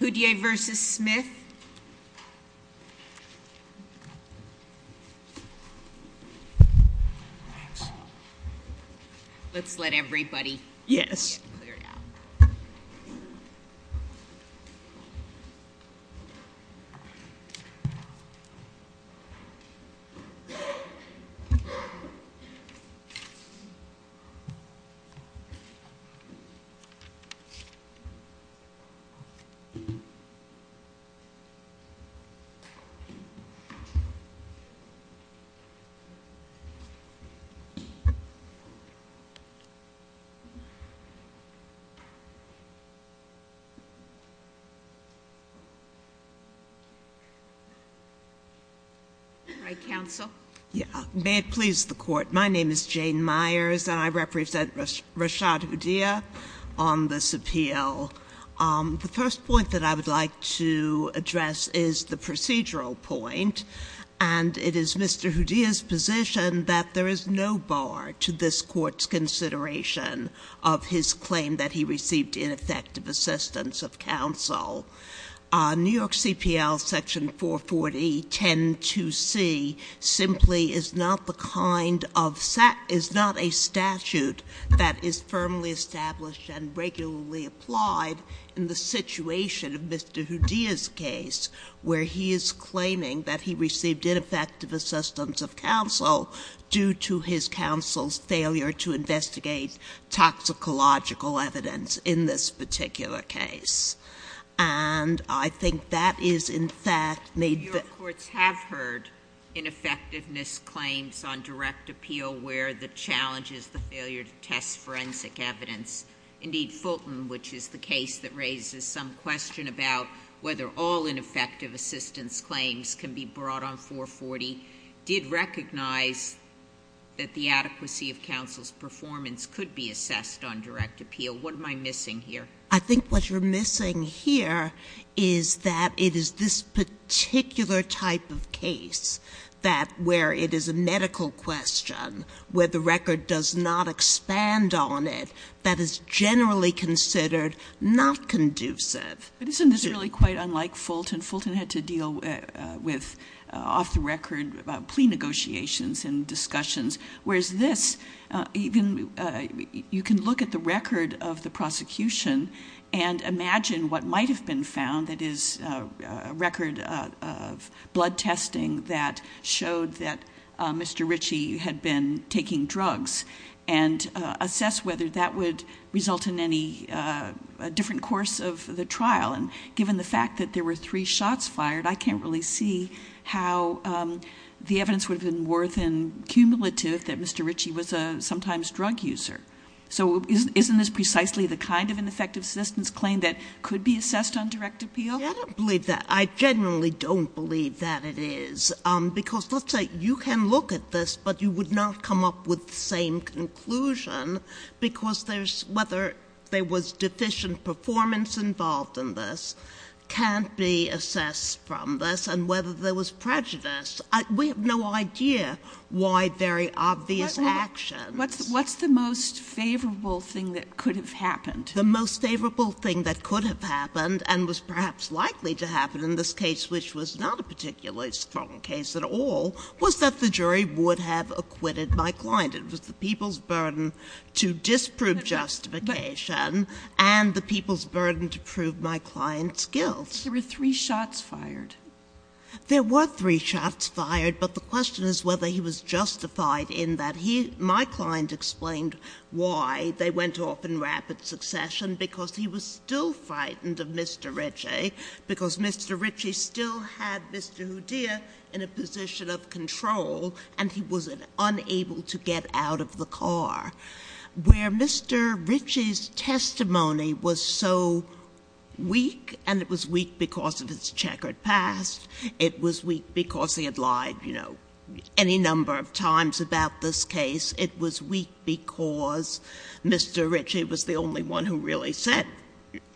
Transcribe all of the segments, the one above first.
Houdier v. Smith let's let everybody yes right counsel yeah may it please the court my name is Jane Myers and I first point that I would like to address is the procedural point and it is mr. Houdier's position that there is no bar to this court's consideration of his claim that he received ineffective assistance of counsel New York CPL section 440 10 to see simply is not the kind of set is not a statute that is firmly established and regularly applied in the situation of mr. Houdier's case where he is claiming that he received ineffective assistance of counsel due to his counsel's failure to investigate toxicological evidence in this particular case and I think that is in fact made the courts have heard ineffectiveness claims on direct appeal where the challenge is the failure to assess forensic evidence indeed Fulton which is the case that raises some question about whether all ineffective assistance claims can be brought on 440 did recognize that the adequacy of counsel's performance could be assessed on direct appeal what am I missing here I think what you're missing here is that it is this particular type of case that where it is a medical question where the on it that is generally considered not conducive but isn't this really quite unlike Fulton Fulton had to deal with off-the-record about plea negotiations and discussions whereas this even you can look at the record of the prosecution and imagine what might have been found that is a record of blood whether that would result in any different course of the trial and given the fact that there were three shots fired I can't really see how the evidence would have been worth in cumulative that mr. Ritchie was a sometimes drug user so isn't this precisely the kind of an effective assistance claim that could be assessed on direct appeal I don't believe that I generally don't believe that it is because let's say you can look at this but you would not come up with same conclusion because there's whether they was deficient performance involved in this can't be assessed from this and whether there was prejudice we have no idea why very obvious action what's what's the most favorable thing that could have happened the most favorable thing that could have happened and was perhaps likely to happen in this case which was not a particularly strong case at all was that the jury would have acquitted my client it was the people's burden to disprove justification and the people's burden to prove my client's guilt there were three shots fired there were three shots fired but the question is whether he was justified in that he my client explained why they went off in rapid succession because he was still frightened of Mr. Ritchie because Mr. Ritchie still had Mr. Hodea in a position of control and he was unable to get out of the car where Mr. Ritchie's testimony was so weak and it was weak because of his checkered past it was weak because he had lied you know any number of times about this case it was weak because Mr. Hodea was the only one who really said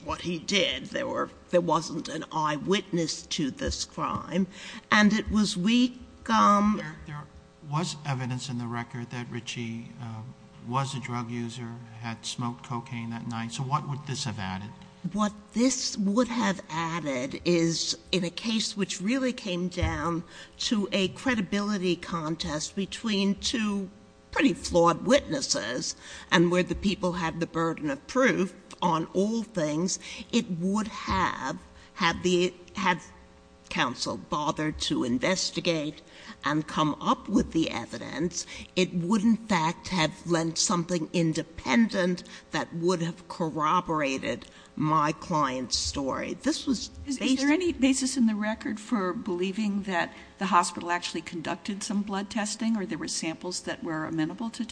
what he did there were there wasn't an eyewitness to this crime and it was weak there was evidence in the record that Ritchie was a drug user had smoked cocaine that night so what would this have added what this would have added is in a case which really came down to a credibility contest between two pretty flawed witnesses and where the people have the burden of proof on all things it would have had the have counsel bothered to investigate and come up with the evidence it would in fact have lent something independent that would have corroborated my client's story this was is there any basis in the record for believing that the hospital actually conducted some blood testing or there were samples that were amenable to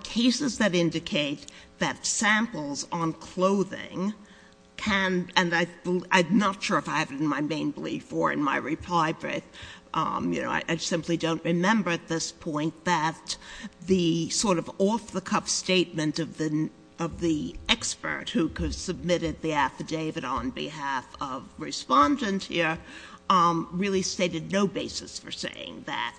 cases that indicate that samples on clothing can and I'm not sure if I have it in my main belief or in my reply but you know I simply don't remember at this point that the sort of off-the-cuff statement of the of the expert who could submitted the affidavit on behalf of respondent here really stated no basis for saying that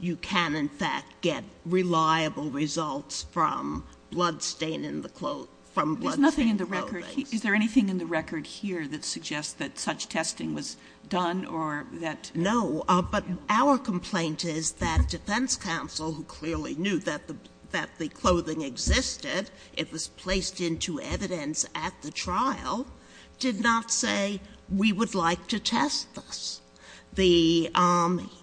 you can in fact get reliable results from blood stain in the clothes from nothing in the record is there anything in the record here that suggests that such testing was done or that no but our complaint is that defense counsel who clearly knew that the that the clothing existed it was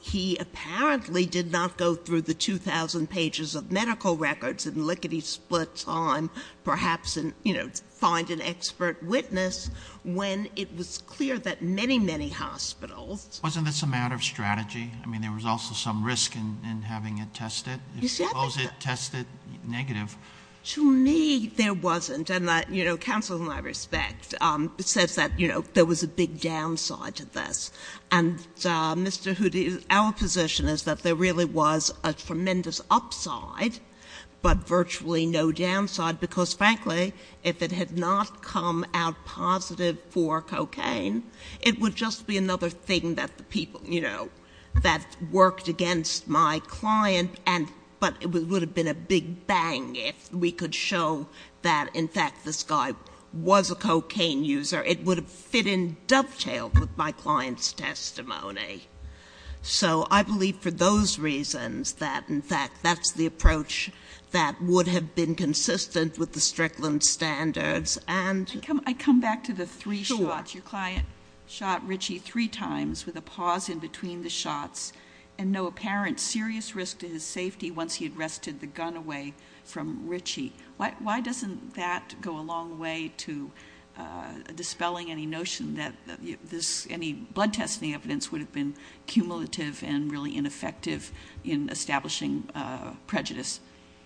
he apparently did not go through the 2,000 pages of medical records and lickety-split time perhaps and you know find an expert witness when it was clear that many many hospitals wasn't this a matter of strategy I mean there was also some risk in having a test it close it test it negative to me there wasn't and that you know counsel and I respect it says that you know there was a big downside to this and mr. who did our position is that there really was a tremendous upside but virtually no downside because frankly if it had not come out positive for cocaine it would just be another thing that the people you know that worked against my client and but it would have been a big bang if we could show that in fact this guy was a cocaine user it would have fit in dovetail with my client's testimony so I believe for those reasons that in fact that's the approach that would have been consistent with the Strickland standards and I come back to the three shots your client shot Richie three times with a pause in between the shots and no apparent serious risk to his safety once he had rested the gun away from Richie why doesn't that go a long way to dispelling any notion that this any blood testing evidence would have been cumulative and really ineffective in establishing prejudice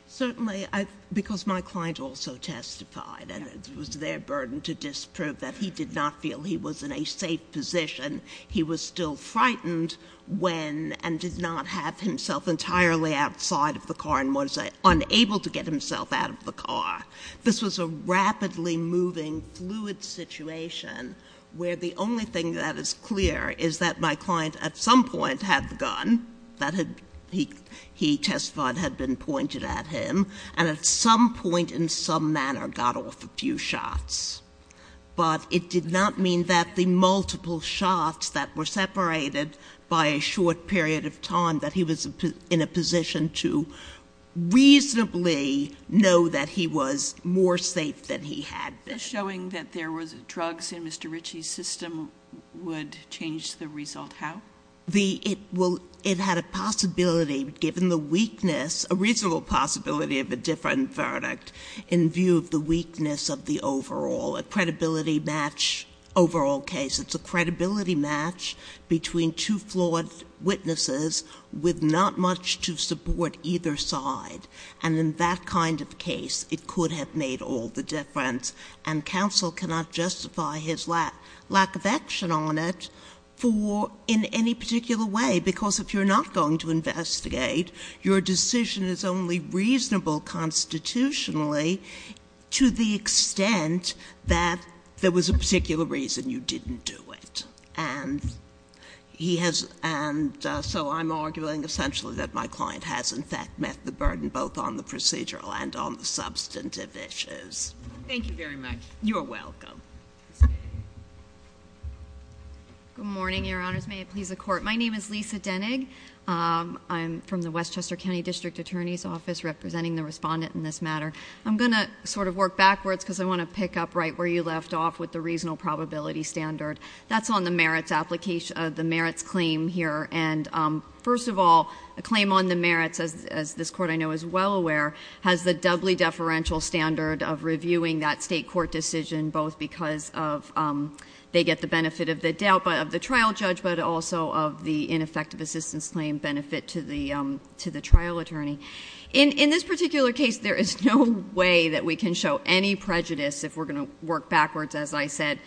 certainly I because my client also testified and it was their burden to disprove that he did not feel he was in a safe position he was still frightened when and did not have himself entirely outside of the car and was unable to get himself out of the car this was a rapidly moving fluid situation where the only thing that is clear is that my client at some point had the gun that had he he testified had been pointed at him and at some point in some manner got off a few shots but it did not mean that the multiple shots that were separated by a short period of time that he was in a position to reasonably know that he was more safe than he had been showing that there was drugs in mr. Richie's system would change the result how the it will it had a possibility given the weakness a reasonable possibility of a different verdict in view of the weakness of the overall a credibility match overall case it's a credibility match between two flawed witnesses with not much to support either side and in that kind of case it could have made all the difference and counsel cannot justify his lap lack of action on it for in any particular way because if you're not going to investigate your decision is only reasonable constitutionally to the extent that there was a particular reason you didn't do it and he has and so I'm arguing essentially that my client has in fact met the burden both on the procedural and on the substantive issues thank you very much you're welcome good morning your honors may it please the court my name is Lisa Denig I'm from the Westchester County District Attorney's Office representing the respondent in this matter I'm gonna sort of work backwards because I want to pick up right where you left off with the reasonable probability standard that's on the merits application of the merits claim here and first of all a claim on the merits as this court I know is well aware has the doubly deferential standard of reviewing that state court decision both because of they get the benefit of the doubt but of the trial judge but also of the ineffective assistance claim benefit to the to the trial attorney in in this particular case there is no way that we can show any prejudice if we're going to work backwards as I said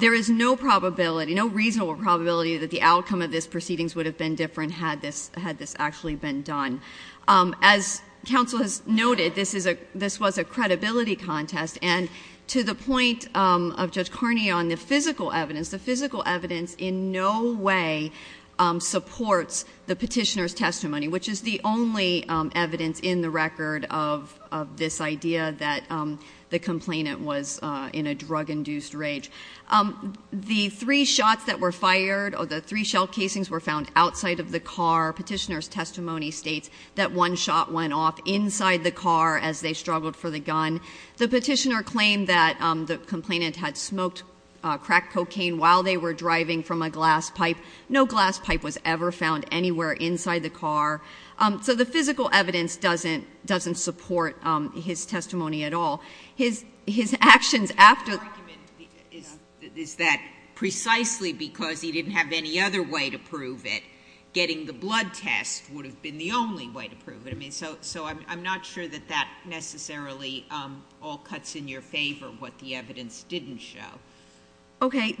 there is no probability no reasonable probability that the outcome of this proceedings would have been different had this had this actually been done as counsel has noted this is a this was a credibility contest and to the point of Judge Carney on the physical evidence the physical evidence in no way supports the petitioner's testimony which is the only evidence in the record of this idea that the complainant was in a drug induced rage the three shots that were fired or the three shell casings were found outside of the car petitioner's testimony states that one shot went off inside the car as they struggled for the gun the petitioner claimed that the complainant had smoked crack cocaine while they were driving from a glass pipe was ever found anywhere inside the car so the physical evidence doesn't doesn't support his testimony at all his his actions after is that precisely because he didn't have any other way to prove it getting the blood test would have been the only way to prove it I mean so so I'm not sure that that necessarily all cuts in your favor what the evidence didn't show okay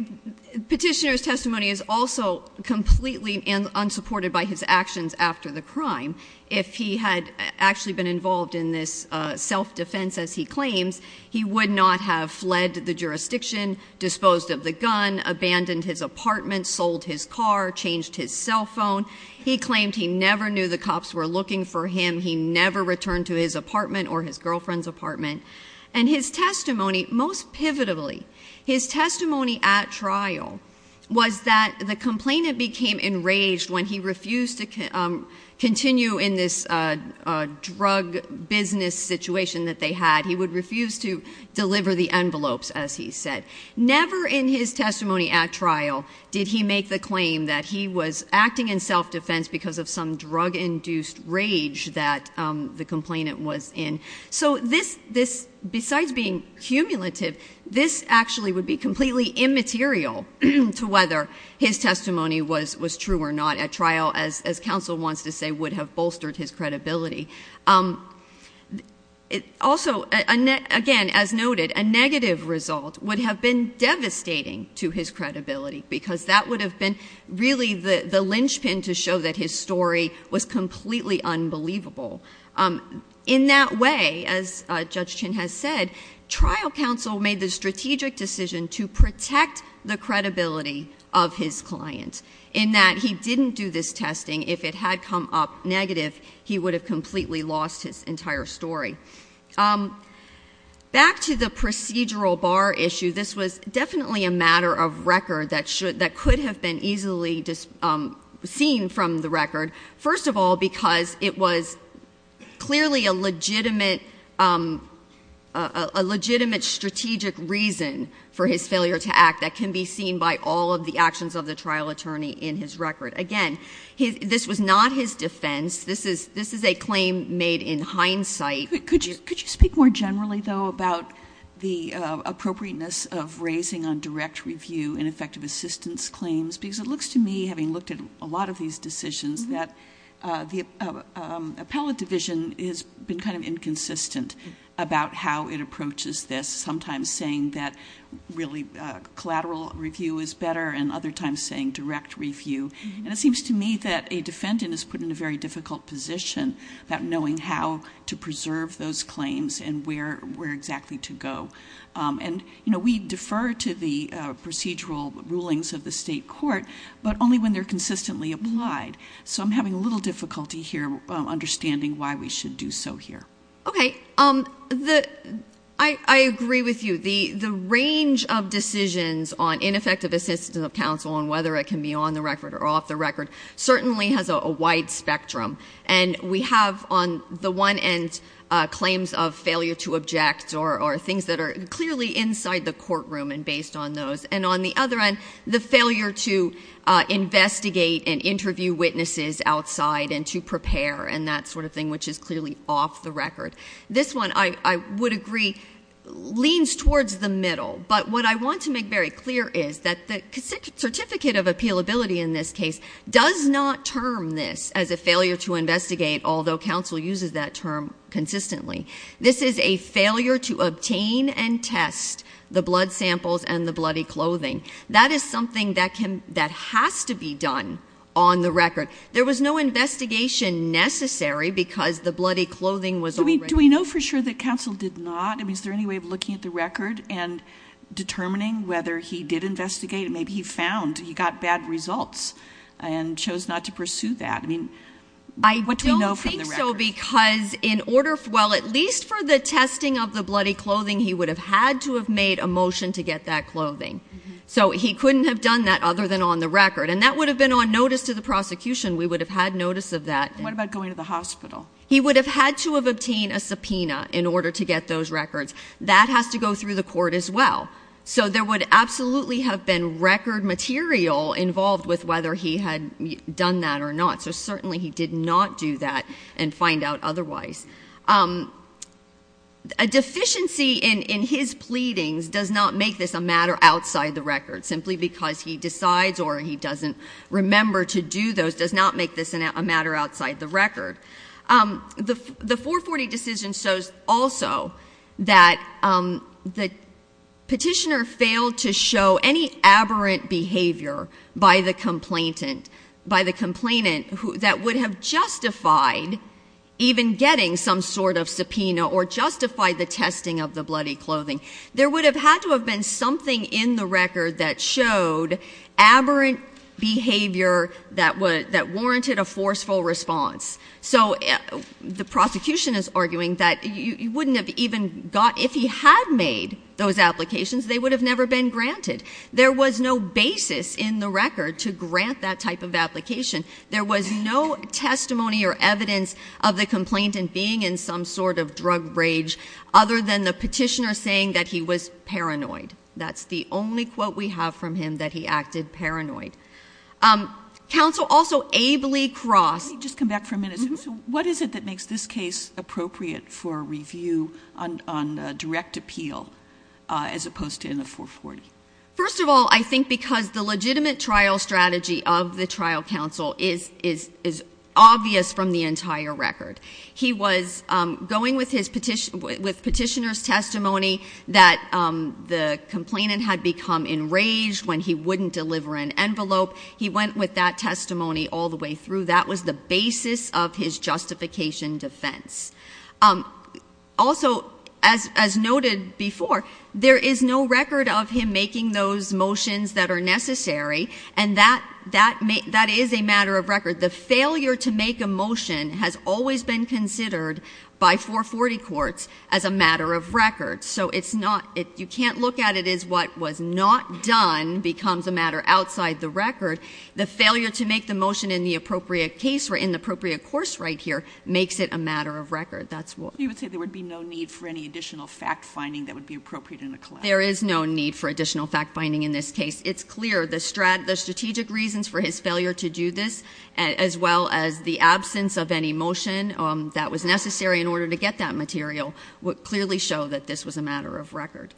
petitioner's testimony is also completely unsupported by his actions after the crime if he had actually been involved in this self-defense as he claims he would not have fled the jurisdiction disposed of the gun abandoned his apartment sold his car changed his cell phone he claimed he never knew the cops were looking for him he never returned to his apartment or his girlfriend's apartment and his testimony most pivotably his testimony at trial was that the complainant became enraged when he refused to continue in this drug business situation that they had he would refuse to deliver the envelopes as he said never in his testimony at trial did he make the claim that he was acting in self-defense because of some drug induced rage that the complainant was in so this this besides being cumulative this actually would be completely immaterial to whether his testimony was was true or not at trial as as counsel wants to say would have bolstered his credibility it also again as noted a negative result would have been devastating to his credibility because that would have been really the the linchpin to show that his story was completely unbelievable in that way as judge chin has said trial counsel made the strategic decision to protect the credibility of his clients in that he didn't do this testing if it had come up negative he would have completely lost his entire story back to the procedural bar issue this was definitely a matter of record that should that could have been easily just seen from the record first of all because it was clearly a legitimate a legitimate strategic reason for his failure to act that can be seen by all of the actions of the trial attorney in his record again he this was not his defense this is this is a claim made in hindsight could you could you speak more generally though about the appropriateness of raising on direct review and effective assistance claims because it looks to me having looked at a lot of these decisions that the appellate division has been kind of this sometimes saying that really collateral review is better and other times saying direct review and it seems to me that a defendant is put in a very difficult position about knowing how to preserve those claims and where where exactly to go and you know we defer to the procedural rulings of the state court but only when they're consistently applied so I'm having a little difficulty here understanding why we should do so here okay um the I agree with you the the range of decisions on ineffective assistance of counsel on whether it can be on the record or off the record certainly has a wide spectrum and we have on the one end claims of failure to object or things that are clearly inside the courtroom and based on those and on the other end the failure to investigate and interview witnesses outside and to prepare and that sort of thing which is clearly off the record this one I would agree leans towards the middle but what I want to make very clear is that the certificate of appeal ability in this case does not term this as a failure to investigate although counsel uses that term consistently this is a failure to obtain and test the blood samples and the bloody clothing that is something that him that has to be done on the record there was no investigation necessary because the bloody clothing was only do we know for sure that counsel did not I mean is there any way of looking at the record and determining whether he did investigate maybe he found he got bad results and chose not to pursue that I mean I don't think so because in order for well at least for the testing of the bloody clothing he would have had to have made a motion to get that clothing so he couldn't have done that other than on the record and that would have been on notice to the prosecution we would have had notice of that what about going to the hospital he would have had to have obtained a subpoena in order to get those records that has to go through the court as well so there would absolutely have been record material involved with whether he had done that or not so certainly he did not do that and find out otherwise a deficiency in in his record simply because he decides or he doesn't remember to do those does not make this a matter outside the record the the 440 decision shows also that the petitioner failed to show any aberrant behavior by the complainant by the complainant who that would have justified even getting some sort of subpoena or justify the testing of the bloody clothing there would have had to be something in the record that showed aberrant behavior that was that warranted a forceful response so the prosecution is arguing that you wouldn't have even got if he had made those applications they would have never been granted there was no basis in the record to grant that type of application there was no testimony or evidence of the complainant being in some sort of drug rage other than the petitioner saying that he was paranoid that's the only quote we have from him that he acted paranoid council also ably crossed just come back for a minute what is it that makes this case appropriate for review on direct appeal as opposed to in the 440 first of all I think because the legitimate trial strategy of the trial counsel is is is obvious from the entire record he was going with his petition with petitioners testimony that the complainant had become enraged when he wouldn't deliver an envelope he went with that testimony all the way through that was the basis of his justification defense also as noted before there is no record of him making those motions that are necessary and that that may that is a matter of record the failure to make a motion has always been considered by 440 courts as a matter of record so it's not if you can't look at it is what was not done becomes a matter outside the record the failure to make the motion in the appropriate case or in the appropriate course right here makes it a matter of record that's what you would say there would be no need for any additional fact-finding that would be appropriate in the club there is no need for additional fact-finding in this case it's clear the strat the strategic reasons for his failure to do this as well as the absence of any motion that was necessary in order to get that material would clearly show that this was a matter of record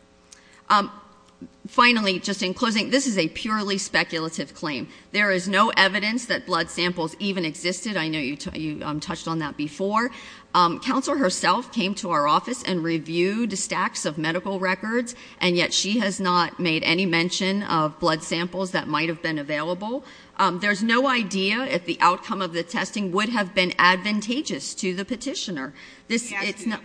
finally just in closing this is a purely speculative claim there is no evidence that blood samples even existed I know you touched on that before council herself came to our office and reviewed the stacks of medical records and yet she has not made any mention of blood samples that might have been available there's no idea if the outcome of the testing would have been advantageous to the petitioner this it's not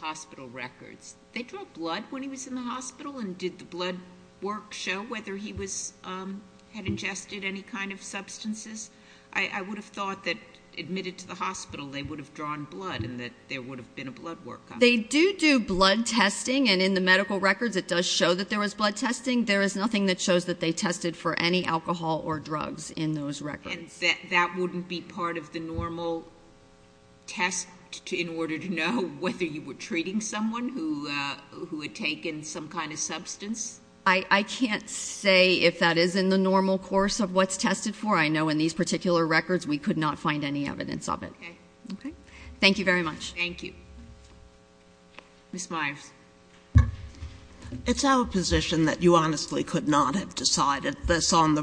hospital records they draw blood when he was in the hospital and did the blood work show whether he was had ingested any kind of substances I would have thought that admitted to the hospital they would have drawn blood and that there would have been a blood work they do do blood testing and in the medical records it does show that there was blood testing there is nothing that that wouldn't be part of the normal test to in order to know whether you were treating someone who who had taken some kind of substance I I can't say if that is in the normal course of what's tested for I know in these particular records we could not find any evidence of it thank you very much thank you it's our position that you honestly could not have decided this on the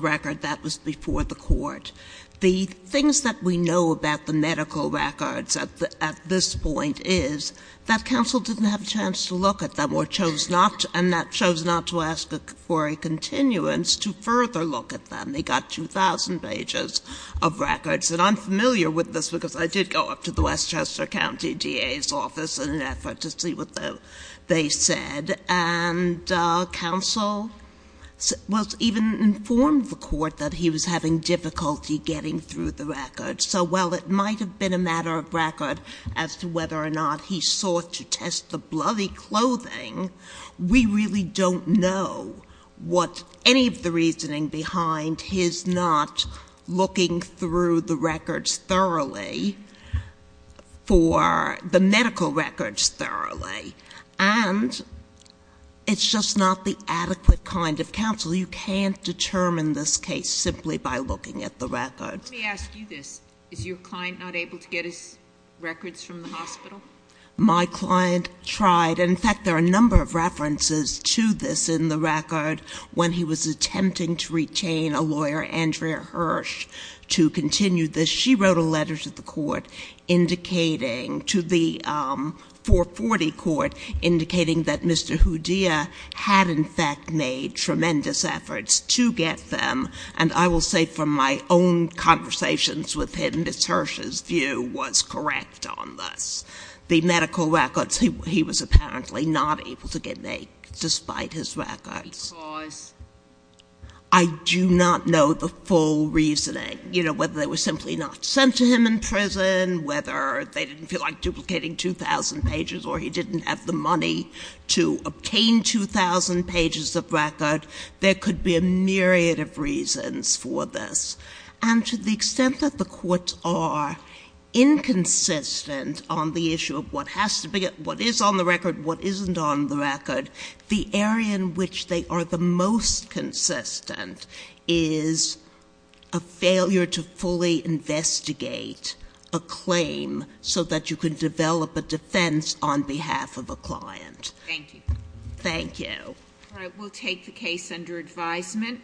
things that we know about the medical records at this point is that council didn't have a chance to look at them or chose not and that chose not to ask for a continuance to further look at them they got 2,000 pages of records and I'm familiar with this because I did go up to the Westchester County DA's office in an effort to see what though they said and council was even informed the court that he was having difficulty getting through the record so well it might have been a matter of record as to whether or not he sought to test the bloody clothing we really don't know what any of the reasoning behind his not looking through the records thoroughly for the medical records thoroughly and it's just not the adequate kind of counsel you can't determine this case simply by looking at the records is your client not able to get his records from the hospital my client tried in fact there are a number of references to this in the record when he was attempting to retain a lawyer Andrea Hirsch to continue this she wrote a letter to the court indicating to the 440 court indicating that mr. Houdia had in fact made tremendous efforts to get them and I will say from my own conversations with him this Hirsch's view was correct on this the medical records he was apparently not able to get make despite his records I do not know the full reasoning you know whether they were simply not sent to him in prison whether they didn't feel like duplicating 2,000 pages or he didn't have the money to obtain 2,000 pages of record there could be a myriad of reasons for this and to the extent that the courts are inconsistent on the issue of what has to be what is on the record what isn't on the record the area in which they are the most consistent is a failure to fully investigate a claim so that you can develop a defense on behalf of a client thank you thank you all right we'll take the case under advisement